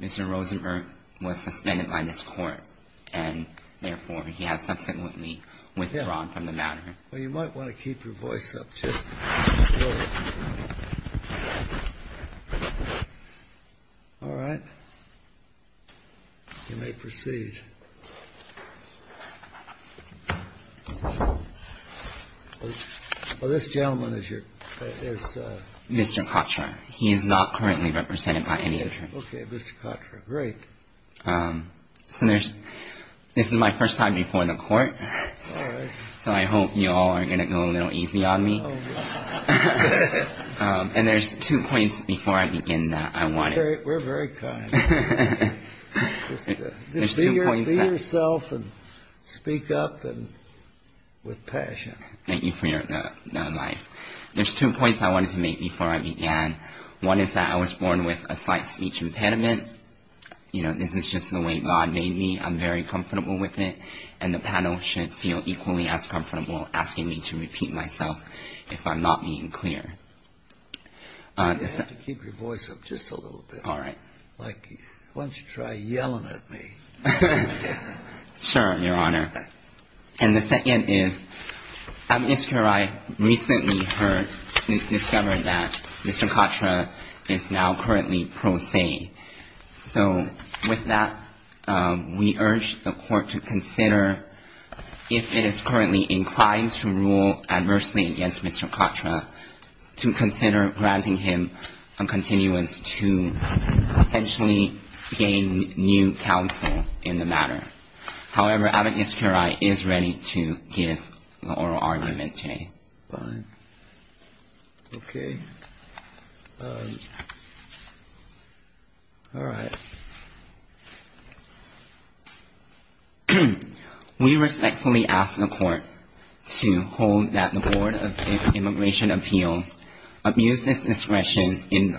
Mr. Rosenberg was suspended by this court and therefore he has subsequently withdrawn from the matter. Well, you might want to keep your voice up just a little bit. All right. You may proceed. Well, this gentleman is your, is Mr. Kattra. He is not currently represented by any attorney. OK, Mr. Kattra. Great. So there's this is my first time before the court. So I hope you all are going to go a little easy on me. And there's two points before I begin that I want. We're very kind. Just be yourself and speak up and with passion. Thank you for your advice. There's two points I wanted to make before I began. One is that I was born with a slight speech impediment. You know, this is just the way God made me. I'm very comfortable with it. And the panel should feel equally as comfortable asking me to repeat myself if I'm not being clear. You have to keep your voice up just a little bit. All right. Like, why don't you try yelling at me? Sure, Your Honor. And the second is, I recently heard, discovered that Mr. Kattra is now currently pro se. So with that, we urge the court to consider if it is currently inclined to rule adversely against Mr. Kattra, to consider granting him a continuance to potentially gain new counsel in the matter. However, Advocates Curie is ready to give an oral argument today. Fine. OK. All right. We respectfully ask the court to hold that the Board of Immigration Appeals abused its discretion in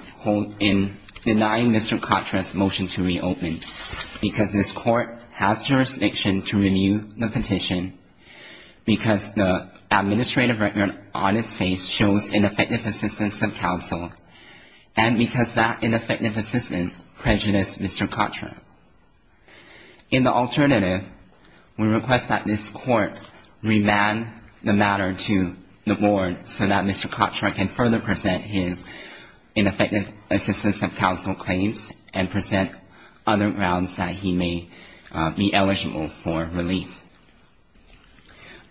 denying Mr. Kattra's motion to reopen because this court has jurisdiction to renew the petition because the administrative record on its face shows ineffective assistance of counsel. And because that ineffective assistance prejudiced Mr. Kattra. In the alternative, we request that this court remand the matter to the board so that Mr. Kattra can further present his ineffective assistance of counsel claims and present other grounds that he may be eligible for relief.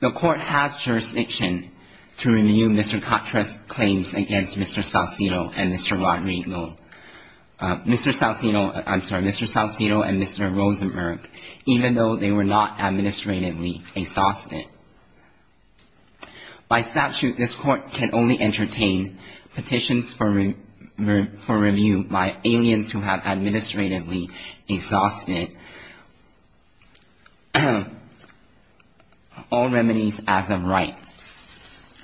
The court has jurisdiction to renew Mr. Kattra's claims against Mr. Saucedo and Mr. Rosenberg, even though they were not administratively exhausted. By statute, this court can only entertain petitions for review by aliens who have administratively exhausted. All remedies as a right,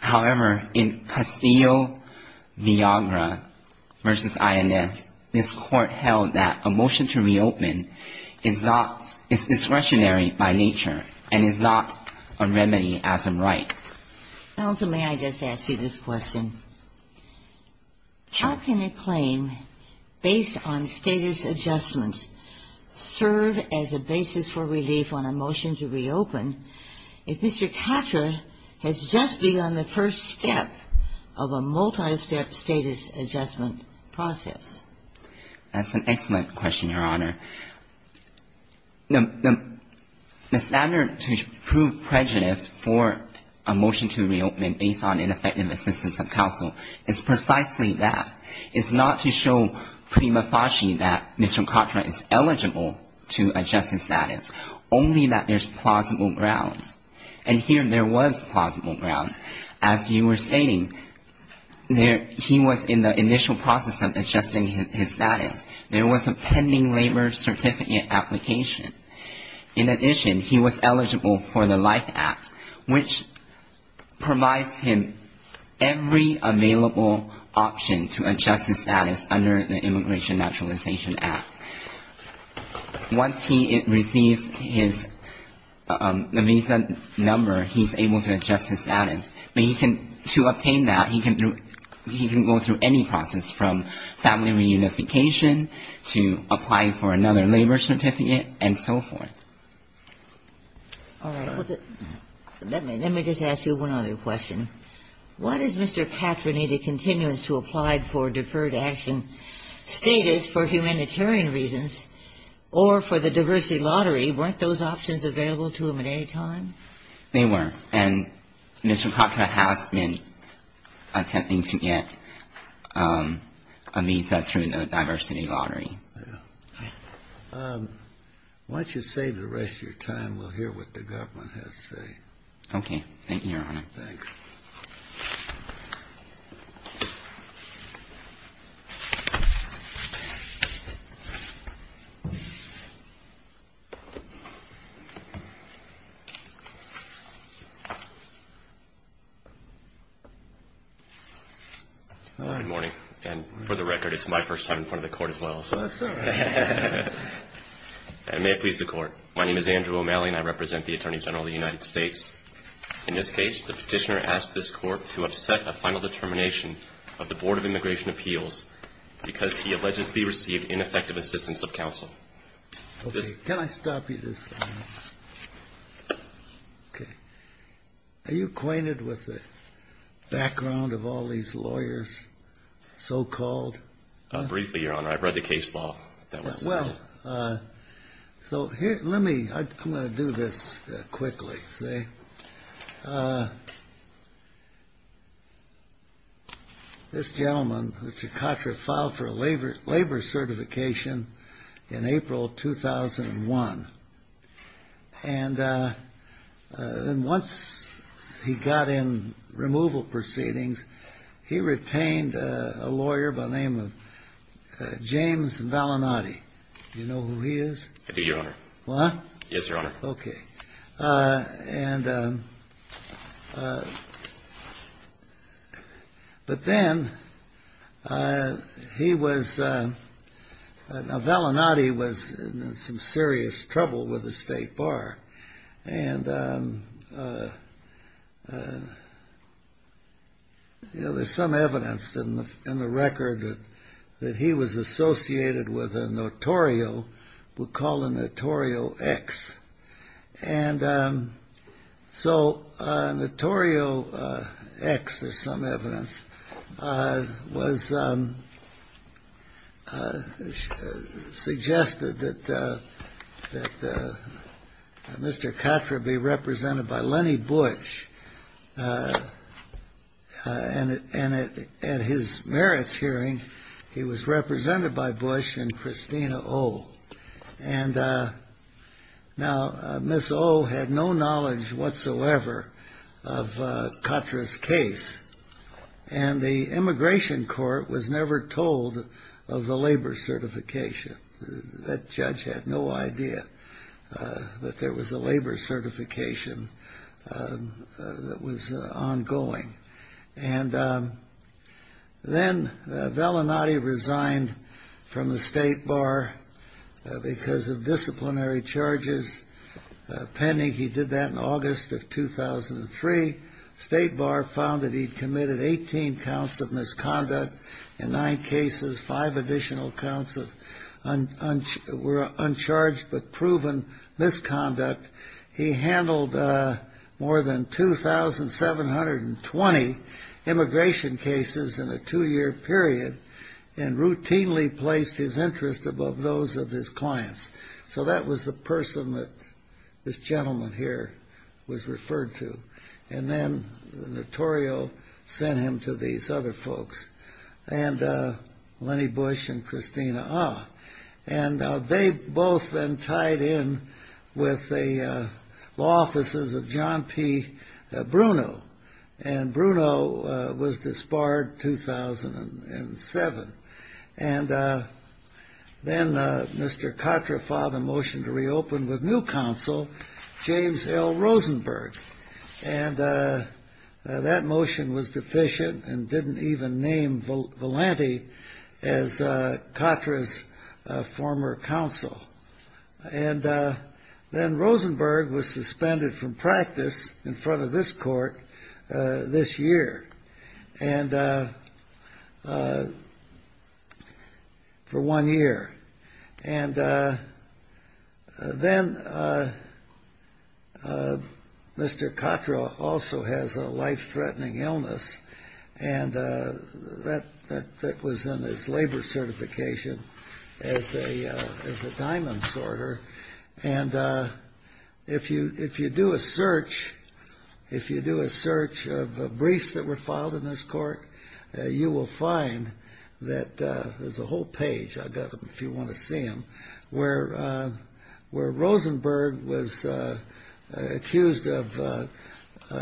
however, in Castillo, Viagra versus INS, this court held that a motion to reopen is not discretionary by nature and is not a remedy as a right. Counsel, may I just ask you this question? How can a claim based on status adjustment serve as a basis for relief on a motion to reopen if Mr. Kattra has just begun the first step of a multi-step status adjustment process? That's an excellent question, Your Honor. The standard to prove prejudice for a motion to reopen based on ineffective assistance of counsel is precisely that. It's not to show prima facie that Mr. Kattra is eligible to adjust his status, only that there's plausible grounds. And here there was plausible grounds. As you were stating, he was in the initial process of adjusting his status. There was a pending labor certificate application. In addition, he was eligible for the Life Act, which provides him every available option to adjust his status under the Immigration Naturalization Act. Once he receives his visa number, he's able to adjust his status. But he can, to obtain that, he can go through any process from family reunification to applying for another labor certificate and so forth. All right. Let me just ask you one other question. What is Mr. Kattra needed continuance to apply for deferred action status for humanitarian reasons or for the diversity lottery? Weren't those options available to him at any time? They were. And Mr. Kattra has been attempting to get a visa through the diversity lottery. Yeah. Why don't you save the rest of your time? We'll hear what the government has to say. Okay. Thank you, Your Honor. Thanks. Good morning. And for the record, it's my first time in front of the Court as well. That's all right. And may it please the Court. My name is Andrew O'Malley and I represent the Attorney General of the United States. In this case, the Petitioner asked this Court to upset a final determination of the Board of Immigration Appeals because he allegedly received ineffective assistance of counsel. Okay. Can I stop you just for a moment? Okay. Are you acquainted with the background of all these lawyers, so-called? Briefly, Your Honor. I've read the case law. Well, so let me – I'm going to do this quickly. This gentleman, Mr. Kattra, filed for a labor certification in April of 2001. And once he got in removal proceedings, he retained a lawyer by the name of James Valinati. Do you know who he is? I do, Your Honor. What? Yes, Your Honor. Okay. And – but then he was – now, Valinati was in some serious trouble with the State Bar. And, you know, there's some evidence in the record that he was associated with a notorio, we'll call a notorio X. And so notorio X, there's some evidence, was – suggested that Mr. Kattra be represented by Lenny Bush. And at his merits hearing, he was represented by Bush and Christina O. And now, Miss O. had no knowledge whatsoever of Kattra's case. And the Immigration Court was never told of the labor certification. That judge had no idea that there was a labor certification that was ongoing. And then Valinati resigned from the State Bar because of disciplinary charges pending. He did that in August of 2003. State Bar found that he'd committed 18 counts of misconduct in nine cases, five additional counts of – were uncharged but proven misconduct. He handled more than 2,720 immigration cases in a two-year period and routinely placed his interest above those of his clients. So that was the person that this gentleman here was referred to. And then the notorio sent him to these other folks, Lenny Bush and Christina O. And they both then tied in with the law offices of John P. Bruno. And Bruno was disbarred 2007. And then Mr. Kattra filed a motion to reopen with new counsel, James L. Rosenberg. And that motion was deficient and didn't even name Valinati as Kattra's former counsel. And then Rosenberg was suspended from practice in front of this court this year and – for one year. And then Mr. Kattra also has a life-threatening illness and that was in his labor certification as a diamond sorter. And if you do a search, if you do a search of briefs that were filed in this court, you will find that there's a whole page. I've got them if you want to see them, where Rosenberg was accused of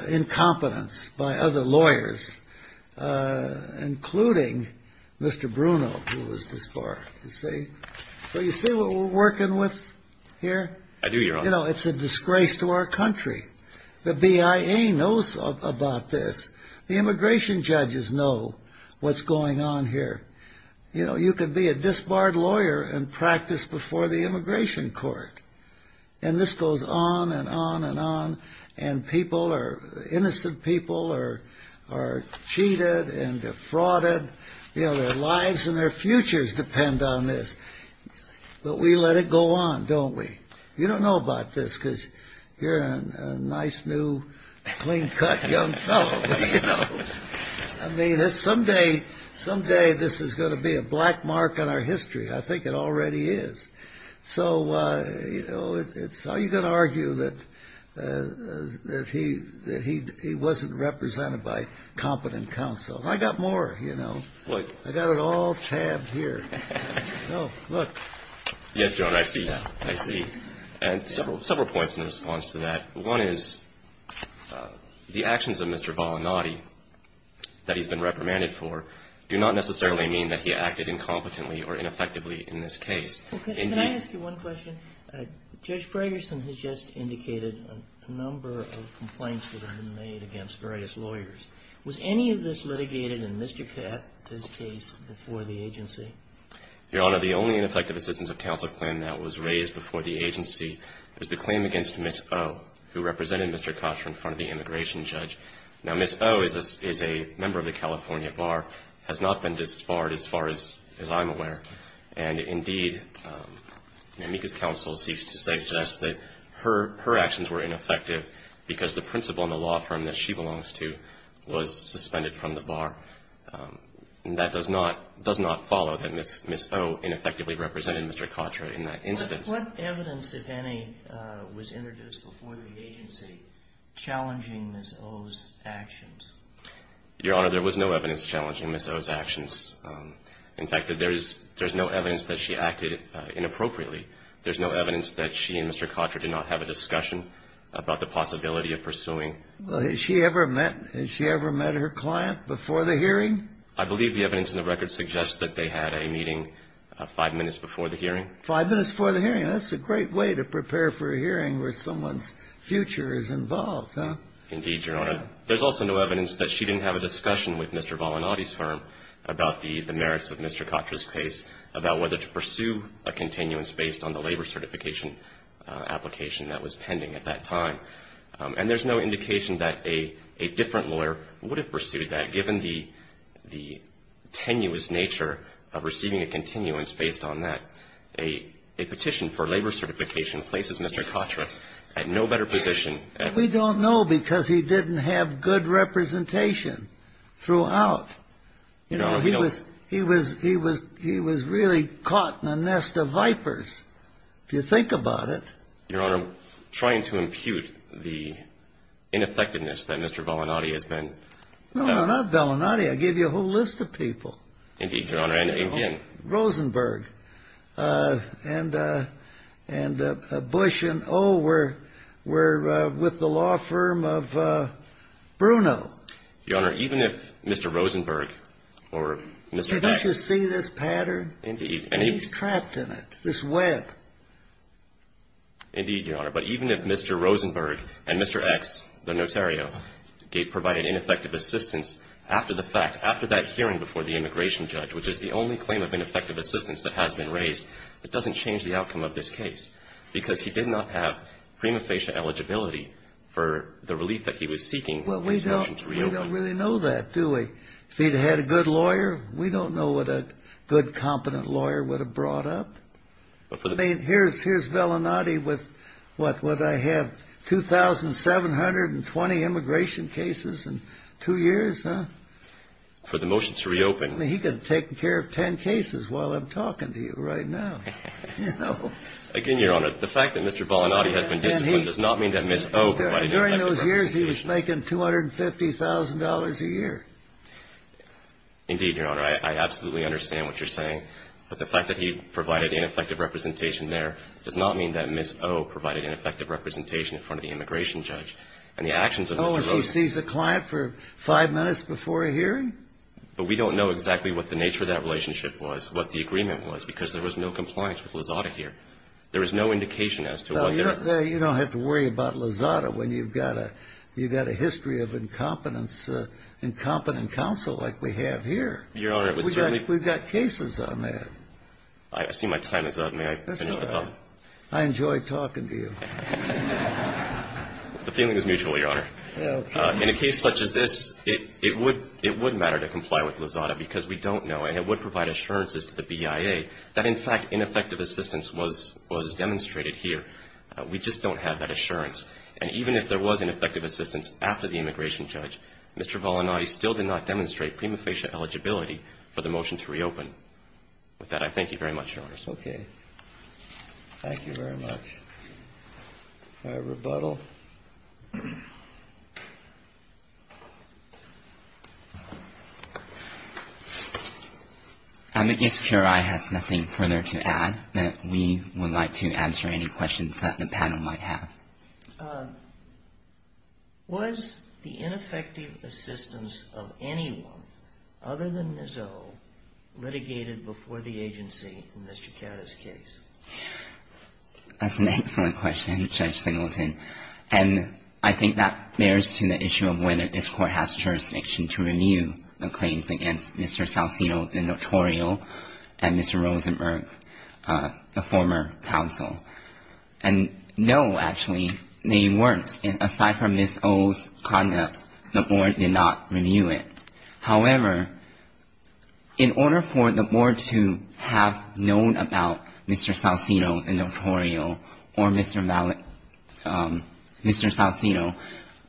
incompetence by other lawyers, including Mr. Bruno, who was disbarred. So you see what we're working with here? It's a disgrace to our country. The BIA knows about this. The immigration judges know what's going on here. You know, you could be a disbarred lawyer and practice before the immigration court. And this goes on and on and on. And people are – innocent people are cheated and defrauded. You know, their lives and their futures depend on this. But we let it go on, don't we? You don't know about this because you're a nice, new, clean-cut young fellow. I mean, someday this is going to be a black mark on our history. I think it already is. So, you know, how are you going to argue that he wasn't represented by competent counsel? I got more, you know. I got it all tabbed here. Oh, look. Yes, John, I see. I see. And several points in response to that. One is the actions of Mr. Volonati that he's been reprimanded for do not necessarily mean that he acted incompetently or ineffectively in this case. Can I ask you one question? Judge Braggerson has just indicated a number of complaints that have been made against various lawyers. Was any of this litigated in Mr. Catt's case before the agency? Your Honor, the only ineffective assistance of counsel claim that was raised before the agency is the claim against Ms. O. who represented Mr. Cattra in front of the immigration judge. Now, Ms. O. is a member of the California Bar, has not been disbarred as far as I'm aware. And, indeed, Namika's counsel seeks to suggest that her actions were ineffective because the principal in the law firm that she belongs to was suspended from the bar. And that does not follow that Ms. O. ineffectively represented Mr. Cattra in that instance. What evidence, if any, was introduced before the agency challenging Ms. O.'s actions? Your Honor, there was no evidence challenging Ms. O.'s actions. In fact, there's no evidence that she acted inappropriately. There's no evidence that she and Mr. Cattra did not have a discussion about the possibility of pursuing. Has she ever met her client before the hearing? I believe the evidence in the record suggests that they had a meeting five minutes before the hearing. Five minutes before the hearing. That's a great way to prepare for a hearing where someone's future is involved, huh? Indeed, Your Honor. There's also no evidence that she didn't have a discussion with Mr. Volanotti's firm about the merits of Mr. Cattra's case, about whether to pursue a continuance based on the labor certification application that was pending at that time. And there's no indication that a different lawyer would have pursued that given the tenuous nature of receiving a continuance based on that. A petition for labor certification places Mr. Cattra at no better position. We don't know because he didn't have good representation throughout. Your Honor, we don't... He was really caught in a nest of vipers, if you think about it. Your Honor, I'm trying to impute the ineffectiveness that Mr. Volanotti has been... No, no, not Volanotti. I gave you a whole list of people. Indeed, Your Honor. And again... Rosenberg and Bush and, oh, we're with the law firm of Bruno. Your Honor, even if Mr. Rosenberg or Mr. X... Didn't you see this pattern? Indeed. And he's trapped in it, this web. Indeed, Your Honor. But even if Mr. Rosenberg and Mr. X, the notario, provided ineffective assistance after the fact, after that hearing before the immigration judge, which is the only claim of ineffective assistance that has been raised, it doesn't change the outcome of this case. Because he did not have prima facie eligibility for the relief that he was seeking... Well, we don't really know that, do we? If he'd had a good lawyer, we don't know what a good, competent lawyer would have brought up. I mean, here's Volanotti with, what, what, I have 2,720 immigration cases in 2 years, huh? For the motions to reopen. I mean, he could have taken care of 10 cases while I'm talking to you right now. Again, Your Honor, the fact that Mr. Volanotti has been disciplined does not mean that Ms. O... During those years, he was making $250,000 a year. Indeed, Your Honor, I absolutely understand what you're saying. But the fact that he provided ineffective representation there does not mean that Ms. O provided ineffective representation in front of the immigration judge. And the actions of Ms. O... Oh, as he sees a client for 5 minutes before a hearing? But we don't know exactly what the nature of that relationship was, what the agreement was, because there was no compliance with Lozada here. There is no indication as to what their... Well, you don't have to worry about Lozada when you've got a history of incompetence, incompetent counsel like we have here. Your Honor, it was certainly... But we've got cases on that. I see my time is up. May I finish the... That's all right. I enjoy talking to you. The feeling is mutual, Your Honor. Okay. In a case such as this, it would matter to comply with Lozada because we don't know, and it would provide assurances to the BIA that, in fact, ineffective assistance was demonstrated here. We just don't have that assurance. And even if there was ineffective assistance after the immigration judge, Mr. Volanati still did not demonstrate prima facie eligibility for the motion to reopen. With that, I thank you very much, Your Honor. Okay. Thank you very much. All right. Rebuttal. I'm against QRI has nothing further to add that we would like to answer any questions that the panel might have. Was the ineffective assistance of anyone other than Nizzo litigated before the agency in Mr. Carra's case? That's an excellent question, Judge Singleton. And I think that bears to the issue of whether this Court has jurisdiction to renew the claims against Mr. Saucedo, the notorial, and Mr. Rosenberg, the former counsel. And no, actually, they weren't. Aside from Ms. O's conduct, the Board did not renew it. However, in order for the Board to have known about Mr. Saucedo, the notorial, or Mr. Saucedo,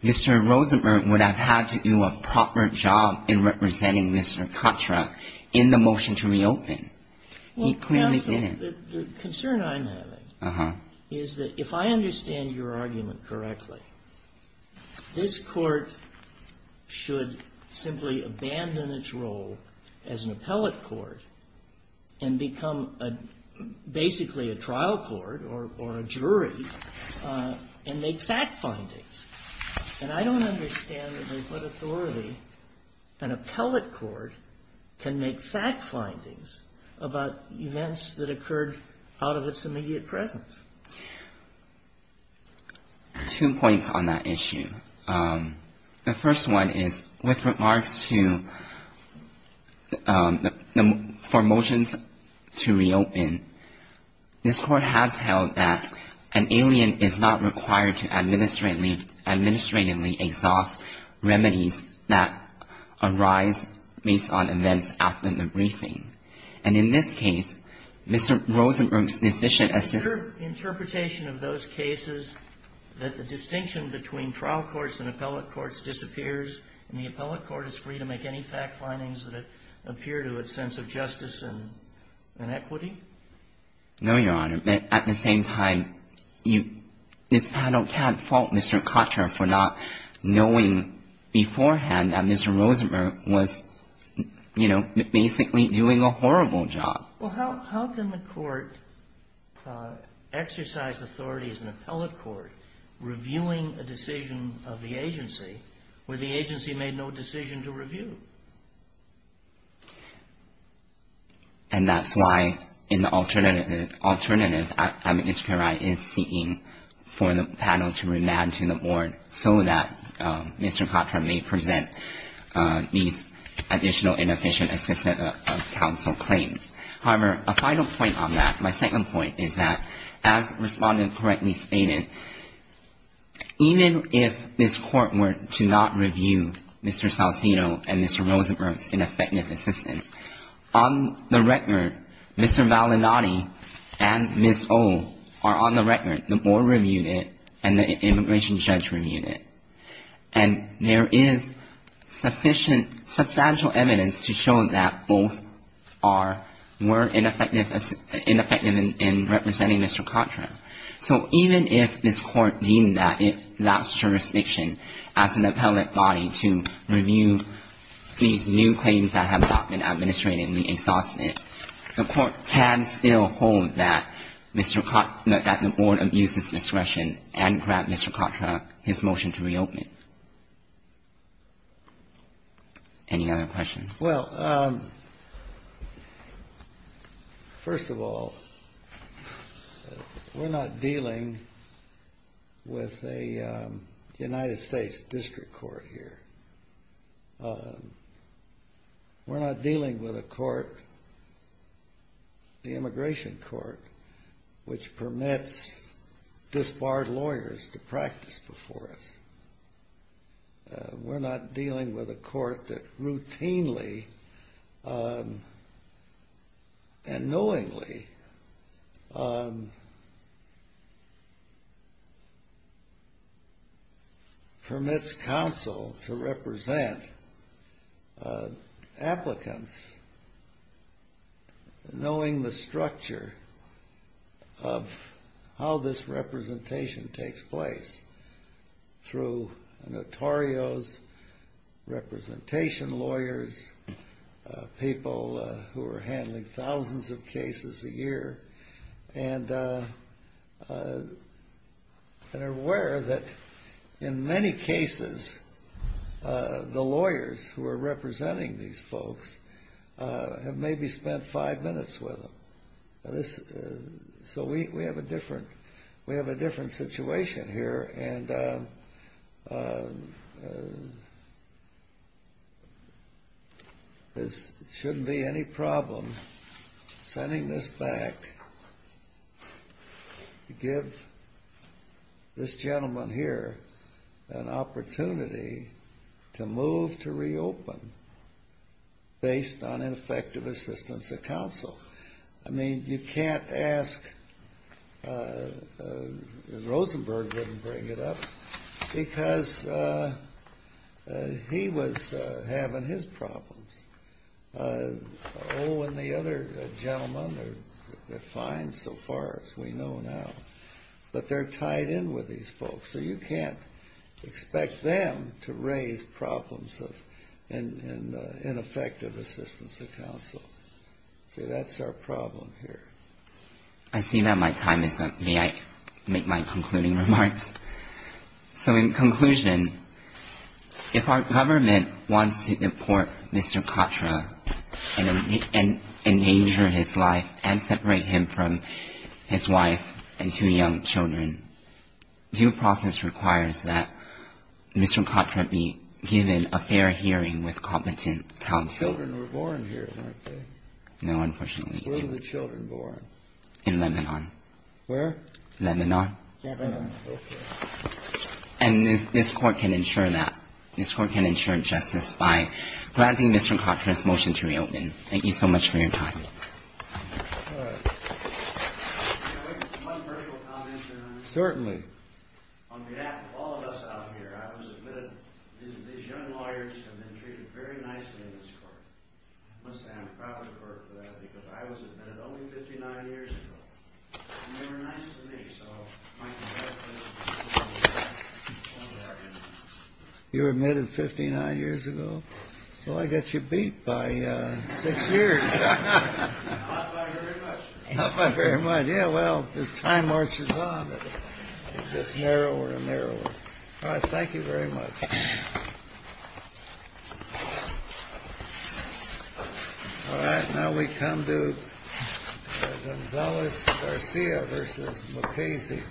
Mr. Rosenberg would have had to do a proper job in representing Mr. Contra in the motion to reopen. He clearly didn't. The concern I'm having is that if I understand your argument correctly, this Court should simply abandon its role as an appellate court and become basically a trial court or a jury and make fact findings. And I don't understand under what authority an appellate court can make fact findings about events that occurred out of its immediate presence. Two points on that issue. The first one is, with remarks to the for motions to reopen, this Court has held that an alien is not required to administratively exhaust remedies that arise based on events after the briefing. And in this case, Mr. Rosenberg's deficient assistant ---- Sotomayor's interpretation of those cases that the distinction between trial courts and appellate courts disappears and the appellate court is free to make any fact findings that appear to its sense of justice and equity? No, Your Honor. At the same time, you ---- this panel can't fault Mr. Contra for not knowing beforehand that Mr. Rosenberg was, you know, basically doing a horrible job. Well, how can the Court exercise authority as an appellate court reviewing a decision of the agency where the agency made no decision to review? And that's why in the alternative ---- alternative, Administrator Wright is seeking for the panel to remand to the board so that Mr. Contra may present these additional inefficient assistant counsel claims. However, a final point on that, my second point is that, as Respondent correctly stated, even if this Court were to not review Mr. Saucino and Mr. Rosenberg's ineffective assistants, on the record, Mr. Malinati and Ms. O are on the record, the board reviewed it and the immigration judge reviewed it. And there is sufficient ---- substantial evidence to show that both are more ineffective as ---- ineffective in representing Mr. Contra. So even if this Court deemed that it lacks jurisdiction as an appellate body to review these new claims that have not been administrated in the exhaustive, the Court can still hold that Mr. Contra ---- that the board abuses discretion and grant Mr. Contra his motion to reopen it. Any other questions? Well, first of all, we're not dealing with a United States district court here. We're not dealing with a court, the immigration court, which permits disbarred lawyers to practice before us. We're not dealing with a court that routinely and knowingly permits counsel to represent applicants, knowing the structure of how this representation takes place through notarios, representation lawyers, people who are handling thousands of cases a year, and are aware that in many cases, the lawyers who are representing these folks have maybe spent five minutes with them. So we have a different situation here, and there shouldn't be any problem sending this back to give this gentleman here an opportunity to move to reopen based on ineffective assistance of counsel. I mean, you can't ask Rosenberg to bring it up because he was having his problems. Oh, and the other gentlemen are fine so far as we know now, but they're tied in with these folks, so you can't expect them to raise problems of ineffective assistance of counsel. See, that's our problem here. I see that my time is up. May I make my concluding remarks? So in conclusion, if our government wants to deport Mr. Katra and endanger his life and separate him from his wife and two young children, due process requires that Mr. Katra be given a fair hearing with competent counsel. The children were born here, weren't they? No, unfortunately. Where were the children born? In Lebanon. Where? Lebanon. And this court can ensure that. This court can ensure justice by granting Mr. Katra's motion to reopen. Thank you so much for your time. Certainly. On behalf of all of us out here, I was admitted. These young lawyers have been treated very nicely in this court. I must say I'm proud of the court for that because I was admitted only 59 years ago, and they were nice to me. So my congratulations. You were admitted 59 years ago? Well, I got you beat by six years. Not by very much. Not by very much. Yeah, well, as time marches on, it gets narrower and narrower. All right, thank you very much. All right, now we come to Gonzalez-Garcia v. Mukasey.